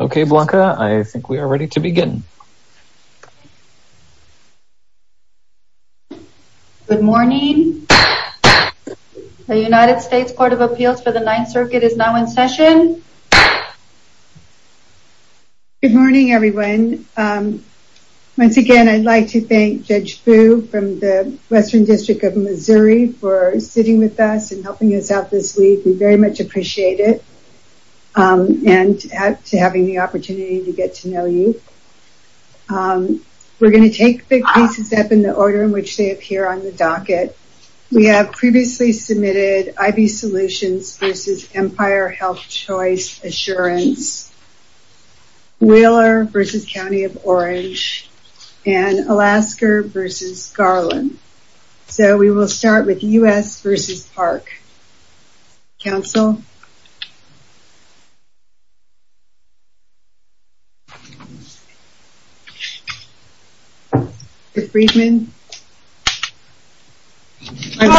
Okay, Blanca, I think we are ready to begin. Good morning. The United States Court of Appeals for the Ninth Circuit is now in session. Good morning, everyone. Once again, I'd like to thank Judge Boo from the Western District of Missouri for sitting with us and helping us out this week. We very much appreciate it and to having the opportunity to get to know you. We're going to take big pieces up in the order in which they appear on the docket. We have previously submitted IB Solutions v. Empire Health Choice Assurance, Wheeler v. County of Orange, and Alaska v. Garland. So, we will start with U.S. v. Park. Council? Ms. Freedman? Good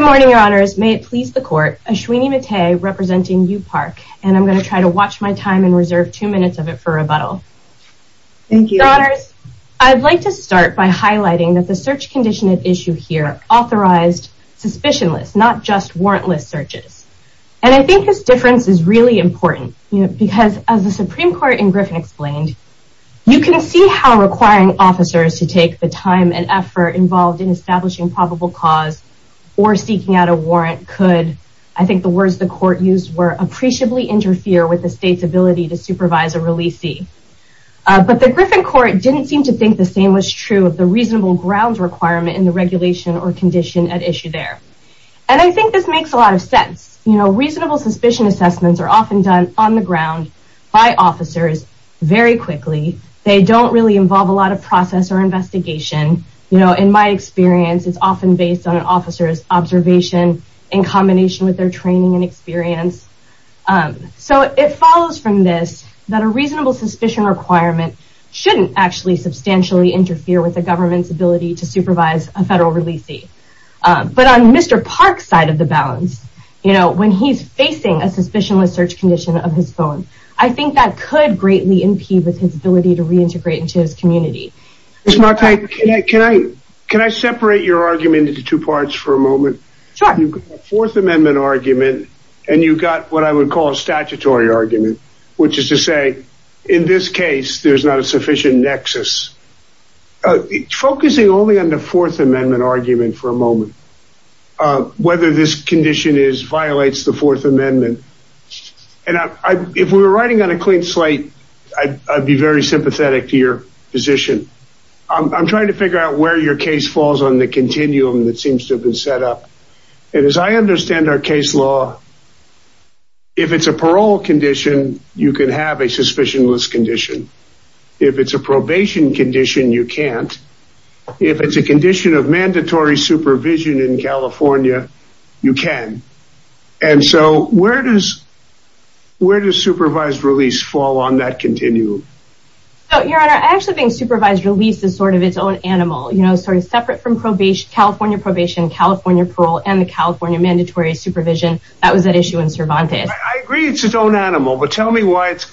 morning, Your Honors. May it please the Court that I am representing Yu Park, and I'm going to try to watch my time and reserve two minutes of it for rebuttal. Your Honors, I'd like to start by highlighting that the search condition at issue here authorized suspicionless, not just warrantless searches. And I think this difference is really important because, as the Supreme Court in Griffin explained, you can see how requiring officers to take the time and effort involved in establishing probable cause or seeking out a warrant could, I think the words the Court used were, appreciably interfere with the state's ability to supervise a releasee. But the Griffin Court didn't seem to think the same was true of the reasonable grounds requirement in the regulation or condition at issue there. And I think this makes a lot of sense. You know, reasonable suspicion assessments are often done on the ground by officers very quickly. They don't really involve a lot of process or investigation. You know, in my experience, it's often based on an officer's observation in combination with their training and experience. So it follows from this that a reasonable suspicion requirement shouldn't actually substantially interfere with the government's ability to supervise a federal releasee. But on Mr. Park's side of the balance, you know, when he's facing a suspicionless search condition of his phone, I think that could greatly impede with his ability to reintegrate into his community. Ms. Marti, can I separate your argument into two parts for a moment? Sure. You've got the Fourth Amendment argument, and you've got what I would call a statutory argument, which is to say, in this case, there's not a sufficient nexus. Focusing only on the Fourth Amendment argument for a moment, whether this condition violates the Fourth Amendment, and if we were writing on a clean slate, I'd be very sympathetic to your position. I'm trying to figure out where your case falls on the continuum that seems to have been set up. And as I understand our case law, if it's a parole condition, you can have a suspicionless condition. If it's a probation condition, you can't. If it's a condition of mandatory supervision in that case, where does supervised release fall on that continuum? Your Honor, I actually think supervised release is sort of its own animal. You know, separate from California probation, California parole, and the California mandatory supervision, that was at issue in Cervantes. I agree it's its own animal, but tell me why it's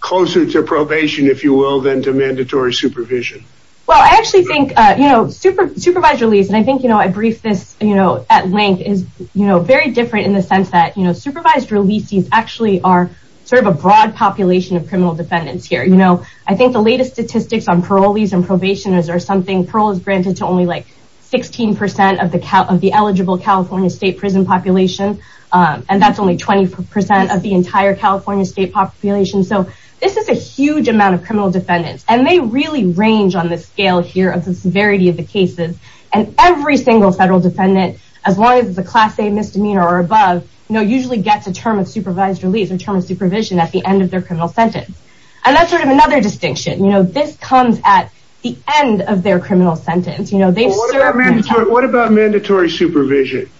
closer to probation, if you will, than to mandatory supervision. Well, I actually think, you know, supervised release, and I think, you know, I briefed this, you know, at length, is, you know, very different in the sense that, you know, supervised releases actually are sort of a broad population of criminal defendants here. You know, I think the latest statistics on parolees and probationers are something parole is granted to only like 16% of the eligible California state prison population, and that's only 20% of the entire California state population. So this is a huge amount of criminal defendants, and they really range on the scale here of the severity of the cases, and every single federal defendant, as long as it's a Class A misdemeanor or above, you know, usually gets a term of supervised release or term of supervision at the end of their criminal sentence, and that's sort of another distinction. You know, this comes at the end of their criminal sentence. You know, they've served... Well, what about mandatory supervision?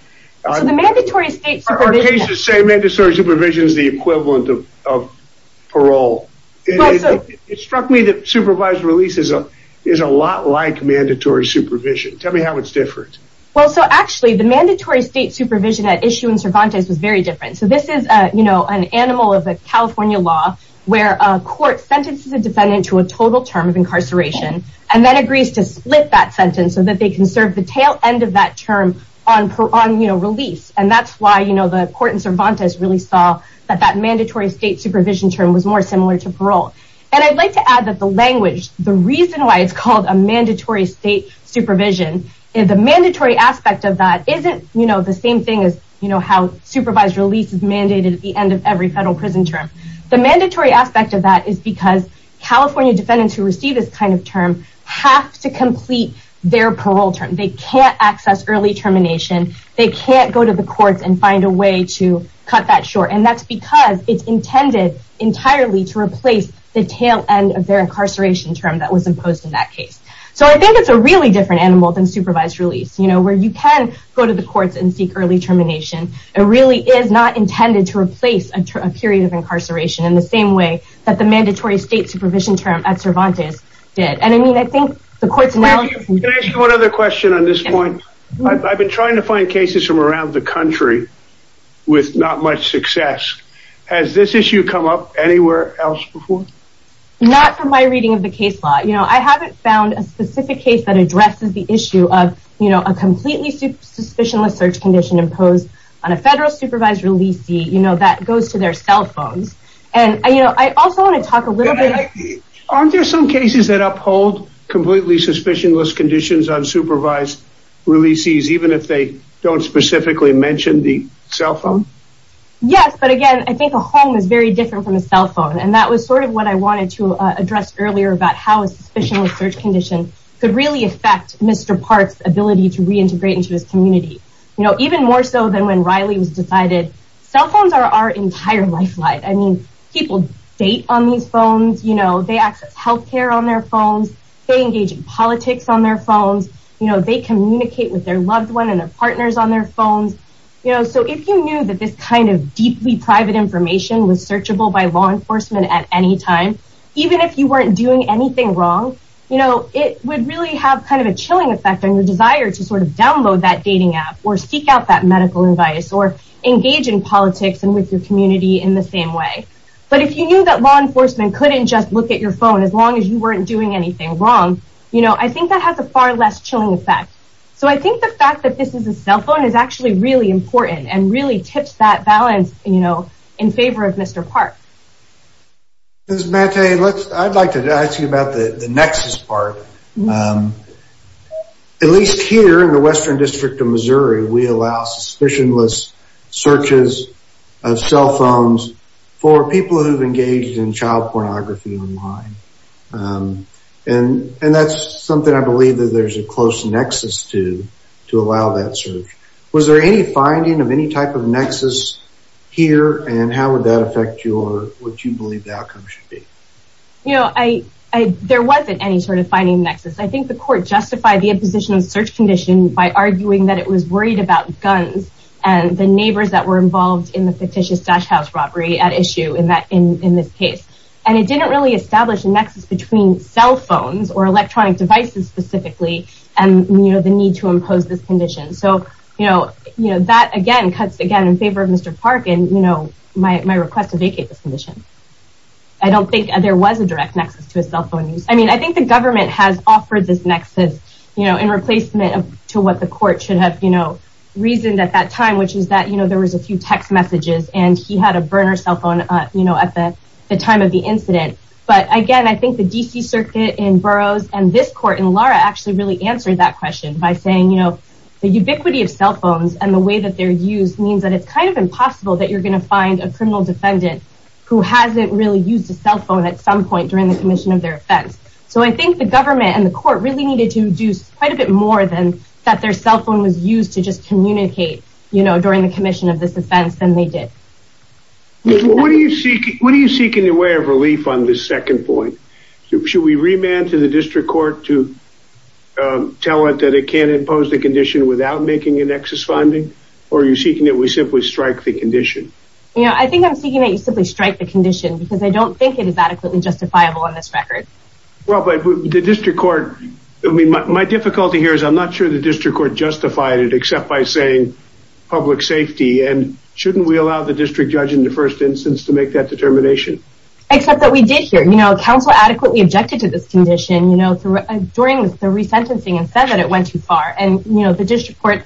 So the mandatory state supervision... Our cases say mandatory supervision is the equivalent of parole. It struck me that supervised release is a lot like mandatory supervision. Tell me how it's different. Well, so actually, the mandatory state supervision at issue in Cervantes was very different. So this is, you know, an animal of the California law where a court sentences a defendant to a total term of incarceration and then agrees to split that sentence so that they can serve the tail end of that term on, you know, release, and that's why, you know, the court in Cervantes really saw that that mandatory state supervision term was more similar to parole. And I'd like to add that the language, the reason why it's called a mandatory state supervision, the mandatory aspect of that isn't, you know, the same thing as, you know, how supervised release is mandated at the end of every federal prison term. The mandatory aspect of that is because California defendants who receive this kind of term have to complete their parole term. They can't access early termination. They can't go to the courts and find a way to cut that short, and that's because it's intended entirely to replace the tail end of their incarceration term that was imposed in that case. So I think it's a really different animal than supervised release, you know, where you can go to the courts and seek early termination. It really is not intended to replace a period of incarceration in the same way that the mandatory state supervision term at Cervantes did. And I mean, I think the courts now... Can I ask you one other question on this point? I've been trying to find cases from around the country with not much success. Has this issue come up anywhere else before? Not from my reading of the case law. You know, I haven't found a specific case that addresses the issue of, you know, a completely suspicionless search condition imposed on a federal supervised releasee, you know, that goes to their cell phones. And, you know, I also want to talk a little bit... Aren't there some cases that uphold completely suspicionless conditions on supervised releasees, even if they don't specifically mention the cell phone? Yes, but again, I think a home is very different from a cell phone. And that was sort of what I wanted to address earlier about how a suspicionless search condition could really affect Mr. Park's ability to reintegrate into his community. You know, even more so than when Riley was decided cell phones are our entire lifeline. I mean, people date on these phones, you know, they access health care on their phones, they engage in politics on their phones, you know, they communicate with their loved one and their partners on their phones. You know, so if you knew that this kind of deeply private information was searchable by law enforcement at any time, even if you weren't doing anything wrong, you know, it would really have kind of a chilling effect on your desire to sort of download that dating app or seek out that medical advice or engage in politics and with your community in the same way. But if you knew that law enforcement couldn't just look at your phone as long as you weren't doing anything wrong, you know, I think that has a far less chilling effect. So I think the fact that this is a cell phone is actually really important and really tips that balance, you know, in favor of Mr. Park. Ms. Maté, I'd like to ask you about the nexus part. At least here in the Western District of Missouri, we allow suspicionless searches of cell phones for people who've engaged in And that's something I believe that there's a close nexus to, to allow that search. Was there any finding of any type of nexus here? And how would that affect you or what you believe the outcome should be? You know, there wasn't any sort of finding nexus. I think the court justified the imposition of search condition by arguing that it was worried about guns and the neighbors that were involved in the fictitious dash house robbery at issue in this case. And it didn't really establish a nexus between cell phones or electronic devices specifically, and, you know, the need to impose this condition. So, you know, you know, that again, cuts again in favor of Mr. Park and, you know, my request to vacate this condition. I don't think there was a direct nexus to a cell phone use. I mean, I think the government has offered this nexus, you know, in replacement to what the court should have, you know, reasoned at that time, which is that, you know, there was a few text messages and he had a burner cell incident. But again, I think the D.C. circuit in Burroughs and this court in Lara actually really answered that question by saying, you know, the ubiquity of cell phones and the way that they're used means that it's kind of impossible that you're going to find a criminal defendant who hasn't really used a cell phone at some point during the commission of their offense. So I think the government and the court really needed to do quite a bit more than that. Their cell phone was used to just communicate, you know, during the commission of this offense than they did. What do you seek? What do you seek in your way of relief on this second point? Should we remand to the district court to tell it that it can't impose the condition without making a nexus funding? Or are you seeking that we simply strike the condition? Yeah, I think I'm seeking that you simply strike the condition because I don't think it is adequately justifiable on this record. Well, but the district court, I mean, my difficulty here is I'm not sure the district court justified it except by saying public safety. And shouldn't we allow the district judge in the first instance to make that determination? Except that we did here, you know, counsel adequately objected to this condition, you know, during the resentencing and said that it went too far. And, you know, the district court,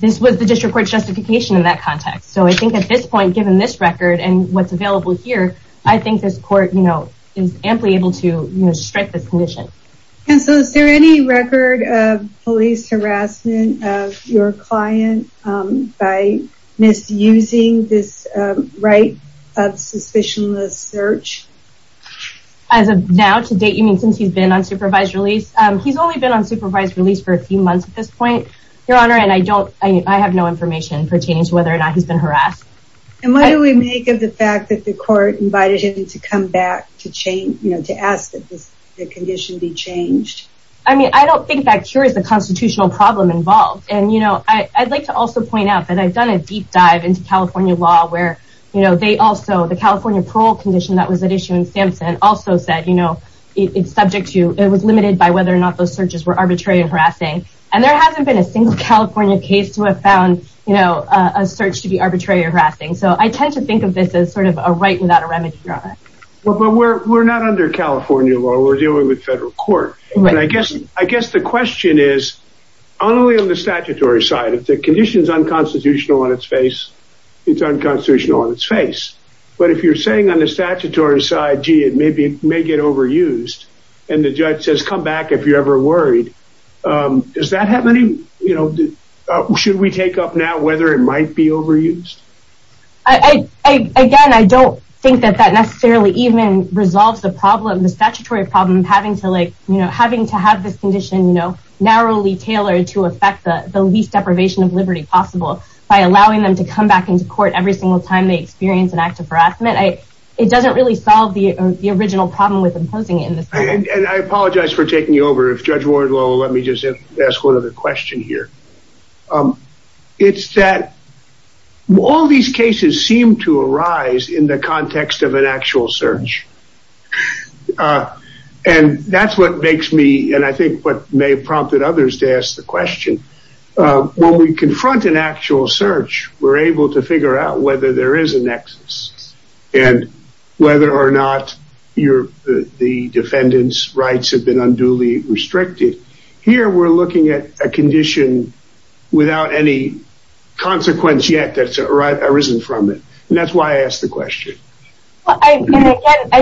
this was the district court justification in that context. So I think at this point, given this record and what's available here, I think this court, you know, is amply able to strike this condition. And so is there any record of police harassment of your client by misusing this right of suspicionless search? As of now, to date, you mean since he's been on supervised release? He's only been on supervised release for a few months at this point, your honor. And I don't I have no information pertaining to whether or not he's been harassed. And what do we make of the fact that the court invited him to come back to change, you know, to ask that the condition be changed? I mean, I don't think that cures the constitutional problem involved. And, you know, I'd like to also point out that I've done a deep dive into California law where, you know, they also the California parole condition that was at issue in Sampson also said, you know, it's subject to it was limited by whether or not those searches were arbitrary and harassing. And there hasn't been a single California case to have found, you know, a search to be arbitrary or harassing. So I tend to think of this as sort of a right without a remedy. Well, but we're not under California law. We're dealing with federal court. And I guess I guess the question is only on the statutory side, if the condition is unconstitutional on its face, it's unconstitutional on its face. But if you're saying on the statutory side, gee, it may be may get overused. And the judge says, come back if you're ever worried. Does that have any, you know, should we take up now whether it might be overused? Again, I don't think that that necessarily even resolves the problem, the statutory problem of having to like, you know, having to have this condition, you know, narrowly deprivation of liberty possible by allowing them to come back into court every single time they experience an act of harassment. It doesn't really solve the original problem with imposing it in this way. And I apologize for taking you over. If Judge Ward will let me just ask one other question here. It's that all these cases seem to arise in the context of an actual search. And that's what makes me and I think what may have prompted others to ask the question. When we confront an actual search, we're able to figure out whether there is a nexus and whether or not you're the defendant's rights have been unduly restricted. Here, we're looking at a condition without any consequence yet that's arisen from it. And that's why I asked the question. I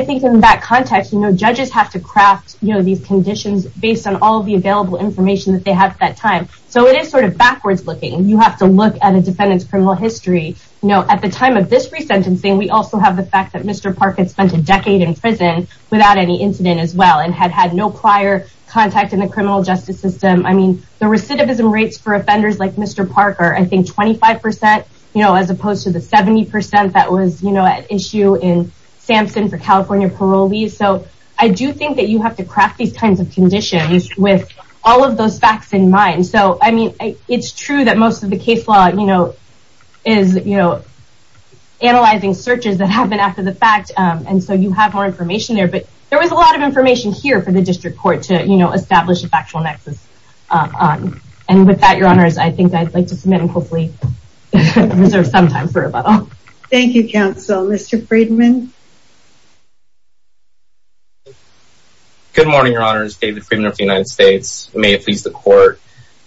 think in that context, you know, judges have to craft these conditions based on all of the available information that they have at that time. So it is sort of backwards looking. You have to look at a defendant's criminal history. You know, at the time of this resentencing, we also have the fact that Mr. Park had spent a decade in prison without any incident as well and had had no prior contact in the criminal justice system. I mean, the recidivism rates for offenders like Mr. Park are, I think, 25 percent, you know, as opposed to the 70 percent that was, you know, at issue in Sampson for California parolees. So I do think that you have to craft these kinds of conditions with all of those facts in mind. So, I mean, it's true that most of the case law, you know, is, you know, analyzing searches that happen after the fact. And so you have more information there. But there was a lot of information here for the district court to establish a factual nexus. And with that, Your Honors, I think I'd like to submit and hopefully reserve some time for rebuttal. Thank you, counsel. Mr. Friedman. Good morning, Your Honors. David Friedman of the United States. May it please the court.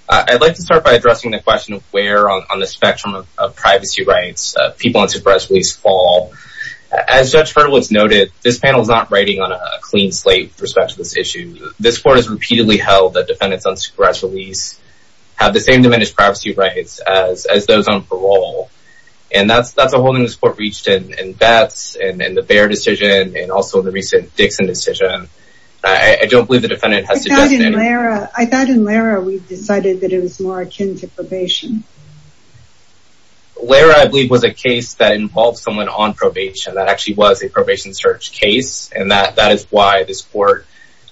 I'd like to start by addressing the question of where on the spectrum of privacy rights people on supressed release fall. As Judge Hurdle has noted, this panel is not writing on a clean slate with respect to this issue. This court has repeatedly held that defendants on supressed release have the same diminished privacy rights as those on parole. And that's a holding this court reached in Beth's and the Bair decision and also the recent Dixon decision. I don't believe the defendant has to justify any of that. I thought in Lara we decided that it was more akin to probation. Lara, I believe, was a case that involved someone on probation that actually was a probation search case. And that is why this court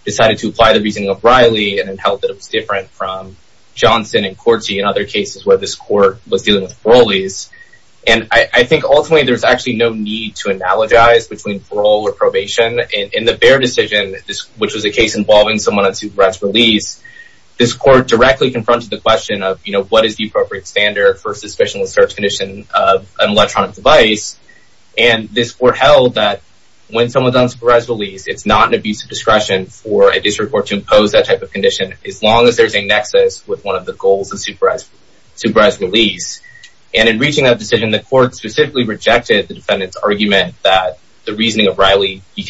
decided to apply the reasoning of Riley and held that it was different from Johnson and Corti and other cases where this court was dealing with parolees. And I think ultimately there's actually no need to analogize between parole or supressed release. This court directly confronted the question of, you know, what is the appropriate standard for suspicionless search condition of an electronic device? And this court held that when someone's on supressed release, it's not an abuse of discretion for a district court to impose that type of condition as long as there's a nexus with one of the goals of supressed release. And in reaching that decision, the court specifically rejected the defendant's argument that the reasoning of Riley v.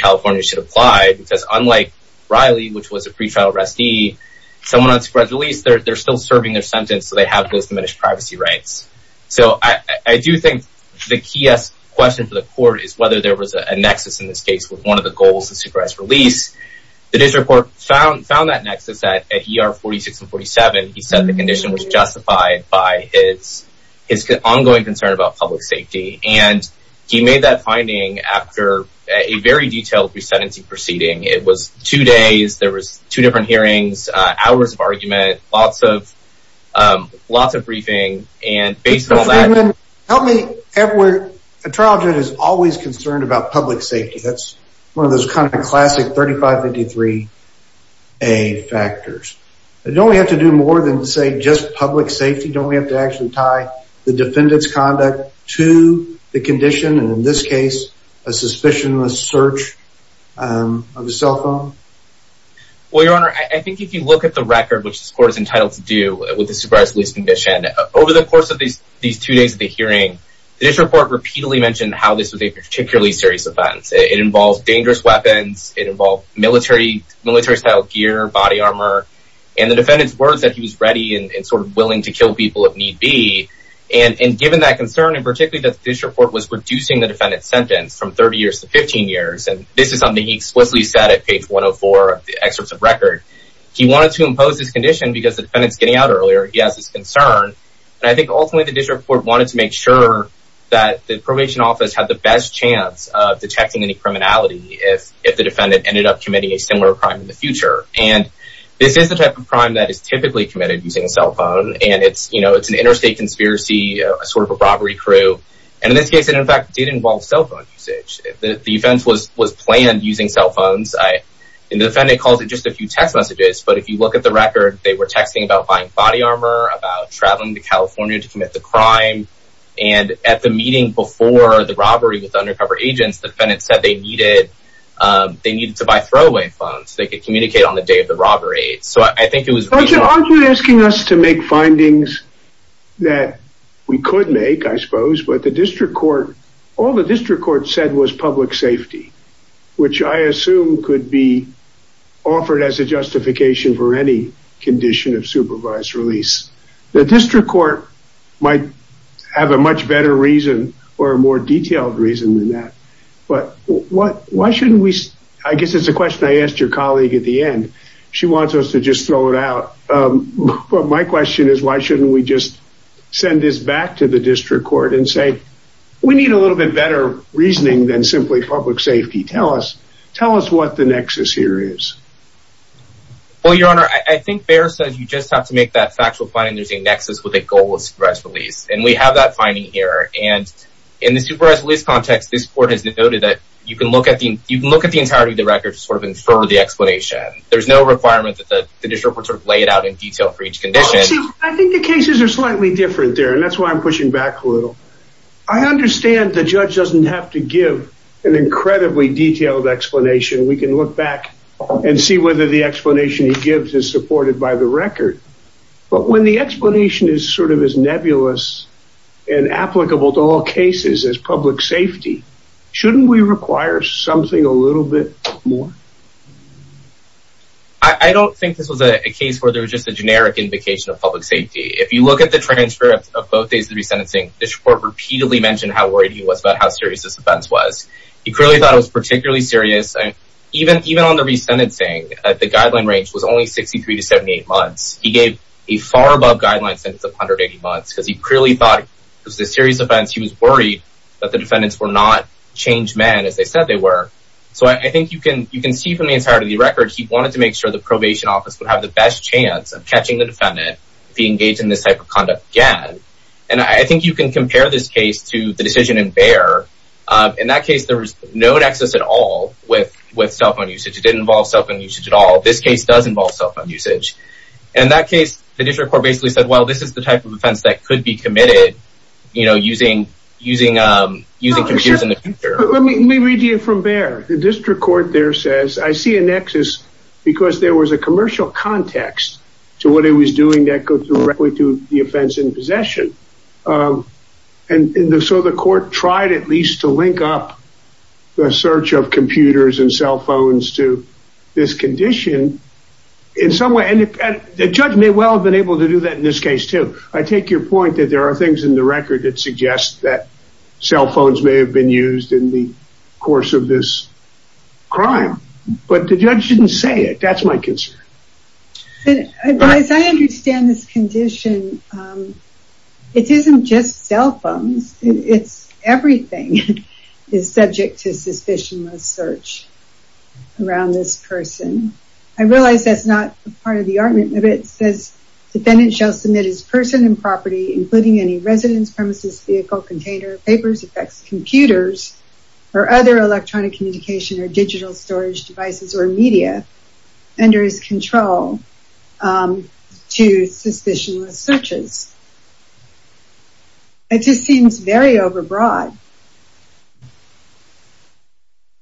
someone on supressed release, they're still serving their sentence. So they have those diminished privacy rights. So I do think the key question for the court is whether there was a nexus in this case with one of the goals of supressed release. The district court found that nexus at ER 46 and 47. He said the condition was justified by his ongoing concern about public safety. And he made that finding after a very detailed resentencing proceeding. It was two days. There was two different hearings, hours of argument, lots of lots of briefing. And based on that, help me, Edward, a trial judge is always concerned about public safety. That's one of those kind of classic 3553A factors. Don't we have to do more than say just public safety? Don't we have to actually tie the defendant's conduct to the condition? And in this case, a suspicionless search of a cell phone? Well, your honor, I think if you look at the record, which this court is entitled to do with the supressed release condition over the course of these these two days of the hearing, the district court repeatedly mentioned how this was a particularly serious offense. It involves dangerous weapons. It involved military military style gear, body armor and the defendant's words that he was ready and sort of willing to kill people if need be. And given that concern and particularly that this report was reducing the defendant's sentence from 30 years to 15 years. And this is something he explicitly said at page one of four of the excerpts of record. He wanted to impose this condition because the defendant's getting out earlier. He has this concern. And I think ultimately, the district court wanted to make sure that the probation office had the best chance of detecting any criminality if if the defendant ended up committing a similar crime in the future. And this is the type of crime that is typically committed using a cell phone. And it's you know, it's an interstate conspiracy, a sort of a robbery crew. And in this case, it in fact did involve cell phone usage. The offense was was planned using cell phones. And the defendant calls it just a few text messages. But if you look at the record, they were texting about buying body armor, about traveling to California to commit the crime. And at the meeting before the robbery with undercover agents, the defendant said they needed they needed to buy throwaway phones so they could communicate on the day of the robbery. So I think it was. But the district court, all the district court said was public safety, which I assume could be offered as a justification for any condition of supervised release. The district court might have a much better reason or a more detailed reason than that. But what why shouldn't we? I guess it's a question I asked your colleague at the end. She wants us to just throw it out. My question is, why shouldn't we just send this back to the district court and say we need a little bit better reasoning than simply public safety? Tell us. Tell us what the nexus here is. Well, your honor, I think there says you just have to make that factual finding. There's a nexus with a goal of supervised release. And we have that finding here. And in the supervised release context, this court has noted that you can look at the you can look at the entirety of the record to sort of infer the explanation. There's no requirement that the district court sort of lay it out in detail for each condition. I think the cases are slightly different there, and that's why I'm pushing back a little. I understand the judge doesn't have to give an incredibly detailed explanation. We can look back and see whether the explanation he gives is supported by the record. But when the explanation is sort of as nebulous and applicable to all cases as public safety, shouldn't we require something a little bit more? I don't think this was a case where there was just a generic indication of public safety. If you look at the transcript of both days of the resentencing, the court repeatedly mentioned how worried he was about how serious this offense was. He clearly thought it was particularly serious. And even even on the resentencing, the guideline range was only 63 to 78 months. He gave a far above guideline sentence of 180 months because he clearly thought it was a serious offense. He was worried that the defendants were not changed men as they said they were. So I think you can you can see from the entirety of the record, he wanted to make sure the probation office would have the best chance of catching the defendant if he engaged in this type of conduct again. And I think you can compare this case to the decision in Bayer. In that case, there was no nexus at all with with cell phone usage. It didn't involve cell phone usage at all. This case does involve cell phone usage. In that case, the district court basically said, well, this is the type of offense that could be committed, you know, using using using computers in the future. Let me read you from Bayer. The district court there says, I see a nexus because there was a commercial context to what he was doing that goes directly to the offense in possession. And so the court tried at least to link up the search of computers and cell phones to this condition in some way. And the judge may well have been able to do that in this case, too. I take your point that there are things in the record that suggest that cell phones may have been used in the course of this crime. But the judge didn't say it. That's my concern. I understand this condition. It isn't just cell phones. It's everything is subject to suspicionless search around this person. I realize that's not part of the argument, but it says defendant shall submit his person and property, including any residence premises, vehicle, container, papers, effects, computers or other electronic communication or digital storage devices or media under his control to suspicionless searches. It just seems very overbroad.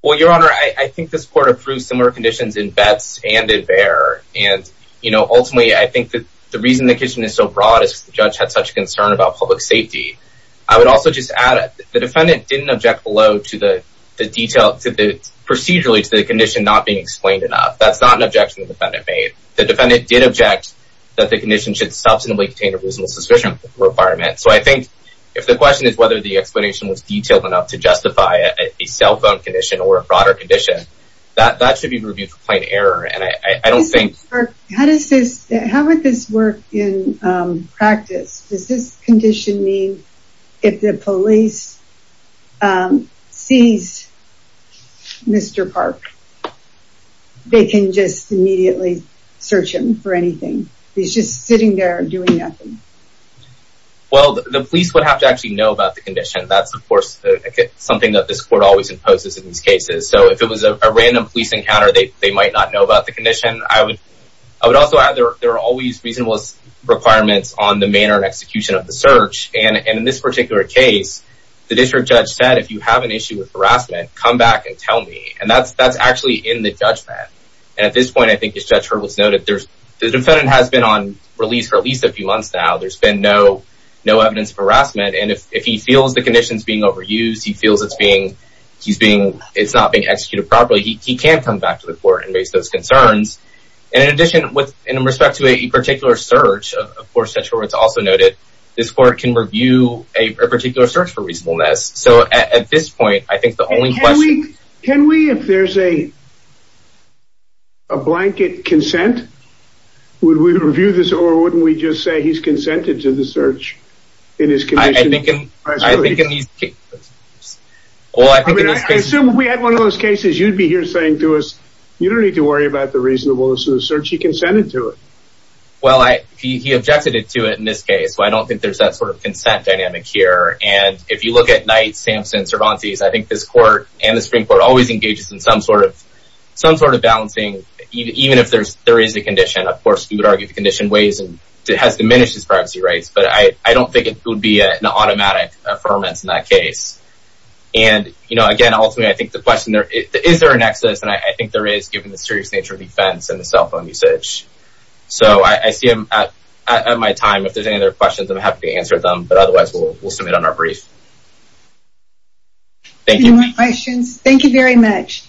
Well, Your Honor, I think this court approved similar conditions in Betz and in Bayer. And, you know, ultimately, I think that the reason the condition is so broad is the judge had such concern about public safety. I would also just add the defendant didn't object below to the detail, to the procedurally to the condition not being explained enough. That's not an objection the defendant made. The defendant did object that the condition should substantively contain a reasonable suspicion requirement. So I think if the question is whether the explanation was detailed enough to justify a cell phone condition or a broader condition, that that should be reviewed for plain error. And I don't think. How does this, how would this work in practice? Does this condition mean if the police sees Mr. Park, they can just immediately search him for anything? He's just sitting there doing nothing. Well, the police would have to actually know about the condition. That's, of course, something that this court always imposes in these cases. So if it was a random police encounter, they might not know about the condition. I would also add there are always reasonable requirements on the manner and execution of the search. And in this particular case, the district judge said, if you have an issue with harassment, come back and tell me. And that's actually in the judgment. And at this point, I think as Judge Hurdle has noted, the defendant has been on release for at least a few months now. There's been no evidence of harassment. And if he feels the condition is being overused, he feels it's not being executed properly, he can come back to the court and raise those concerns. And in addition, with respect to a particular search, of course, Judge Hurdle has also noted, this court can review a particular search for reasonableness. So at this point, I think the only question... Can we, if there's a blanket consent, would we review this? Or wouldn't we just say he's consented to the search in his condition? I think in these cases... Well, I assume if we had one of those cases, you'd be here saying to us, you don't need to go through the search, he consented to it. Well, he objected to it in this case. I don't think there's that sort of consent dynamic here. And if you look at Knight, Sampson, Cervantes, I think this court and the Supreme Court always engages in some sort of balancing, even if there is a condition. Of course, we would argue the condition has diminished his privacy rights. But I don't think it would be an automatic affirmance in that case. And, you know, again, ultimately, I think the question is, is there a nexus? And I think there is, given the serious nature of defense and the cell phone usage. So I see him at my time. If there's any other questions, I'm happy to answer them. But otherwise, we'll submit on our brief. Thank you. Thank you very much.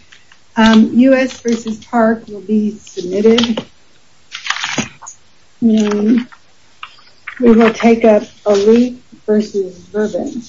U.S. versus Park will be submitted. We will take up Aliq versus Verbin.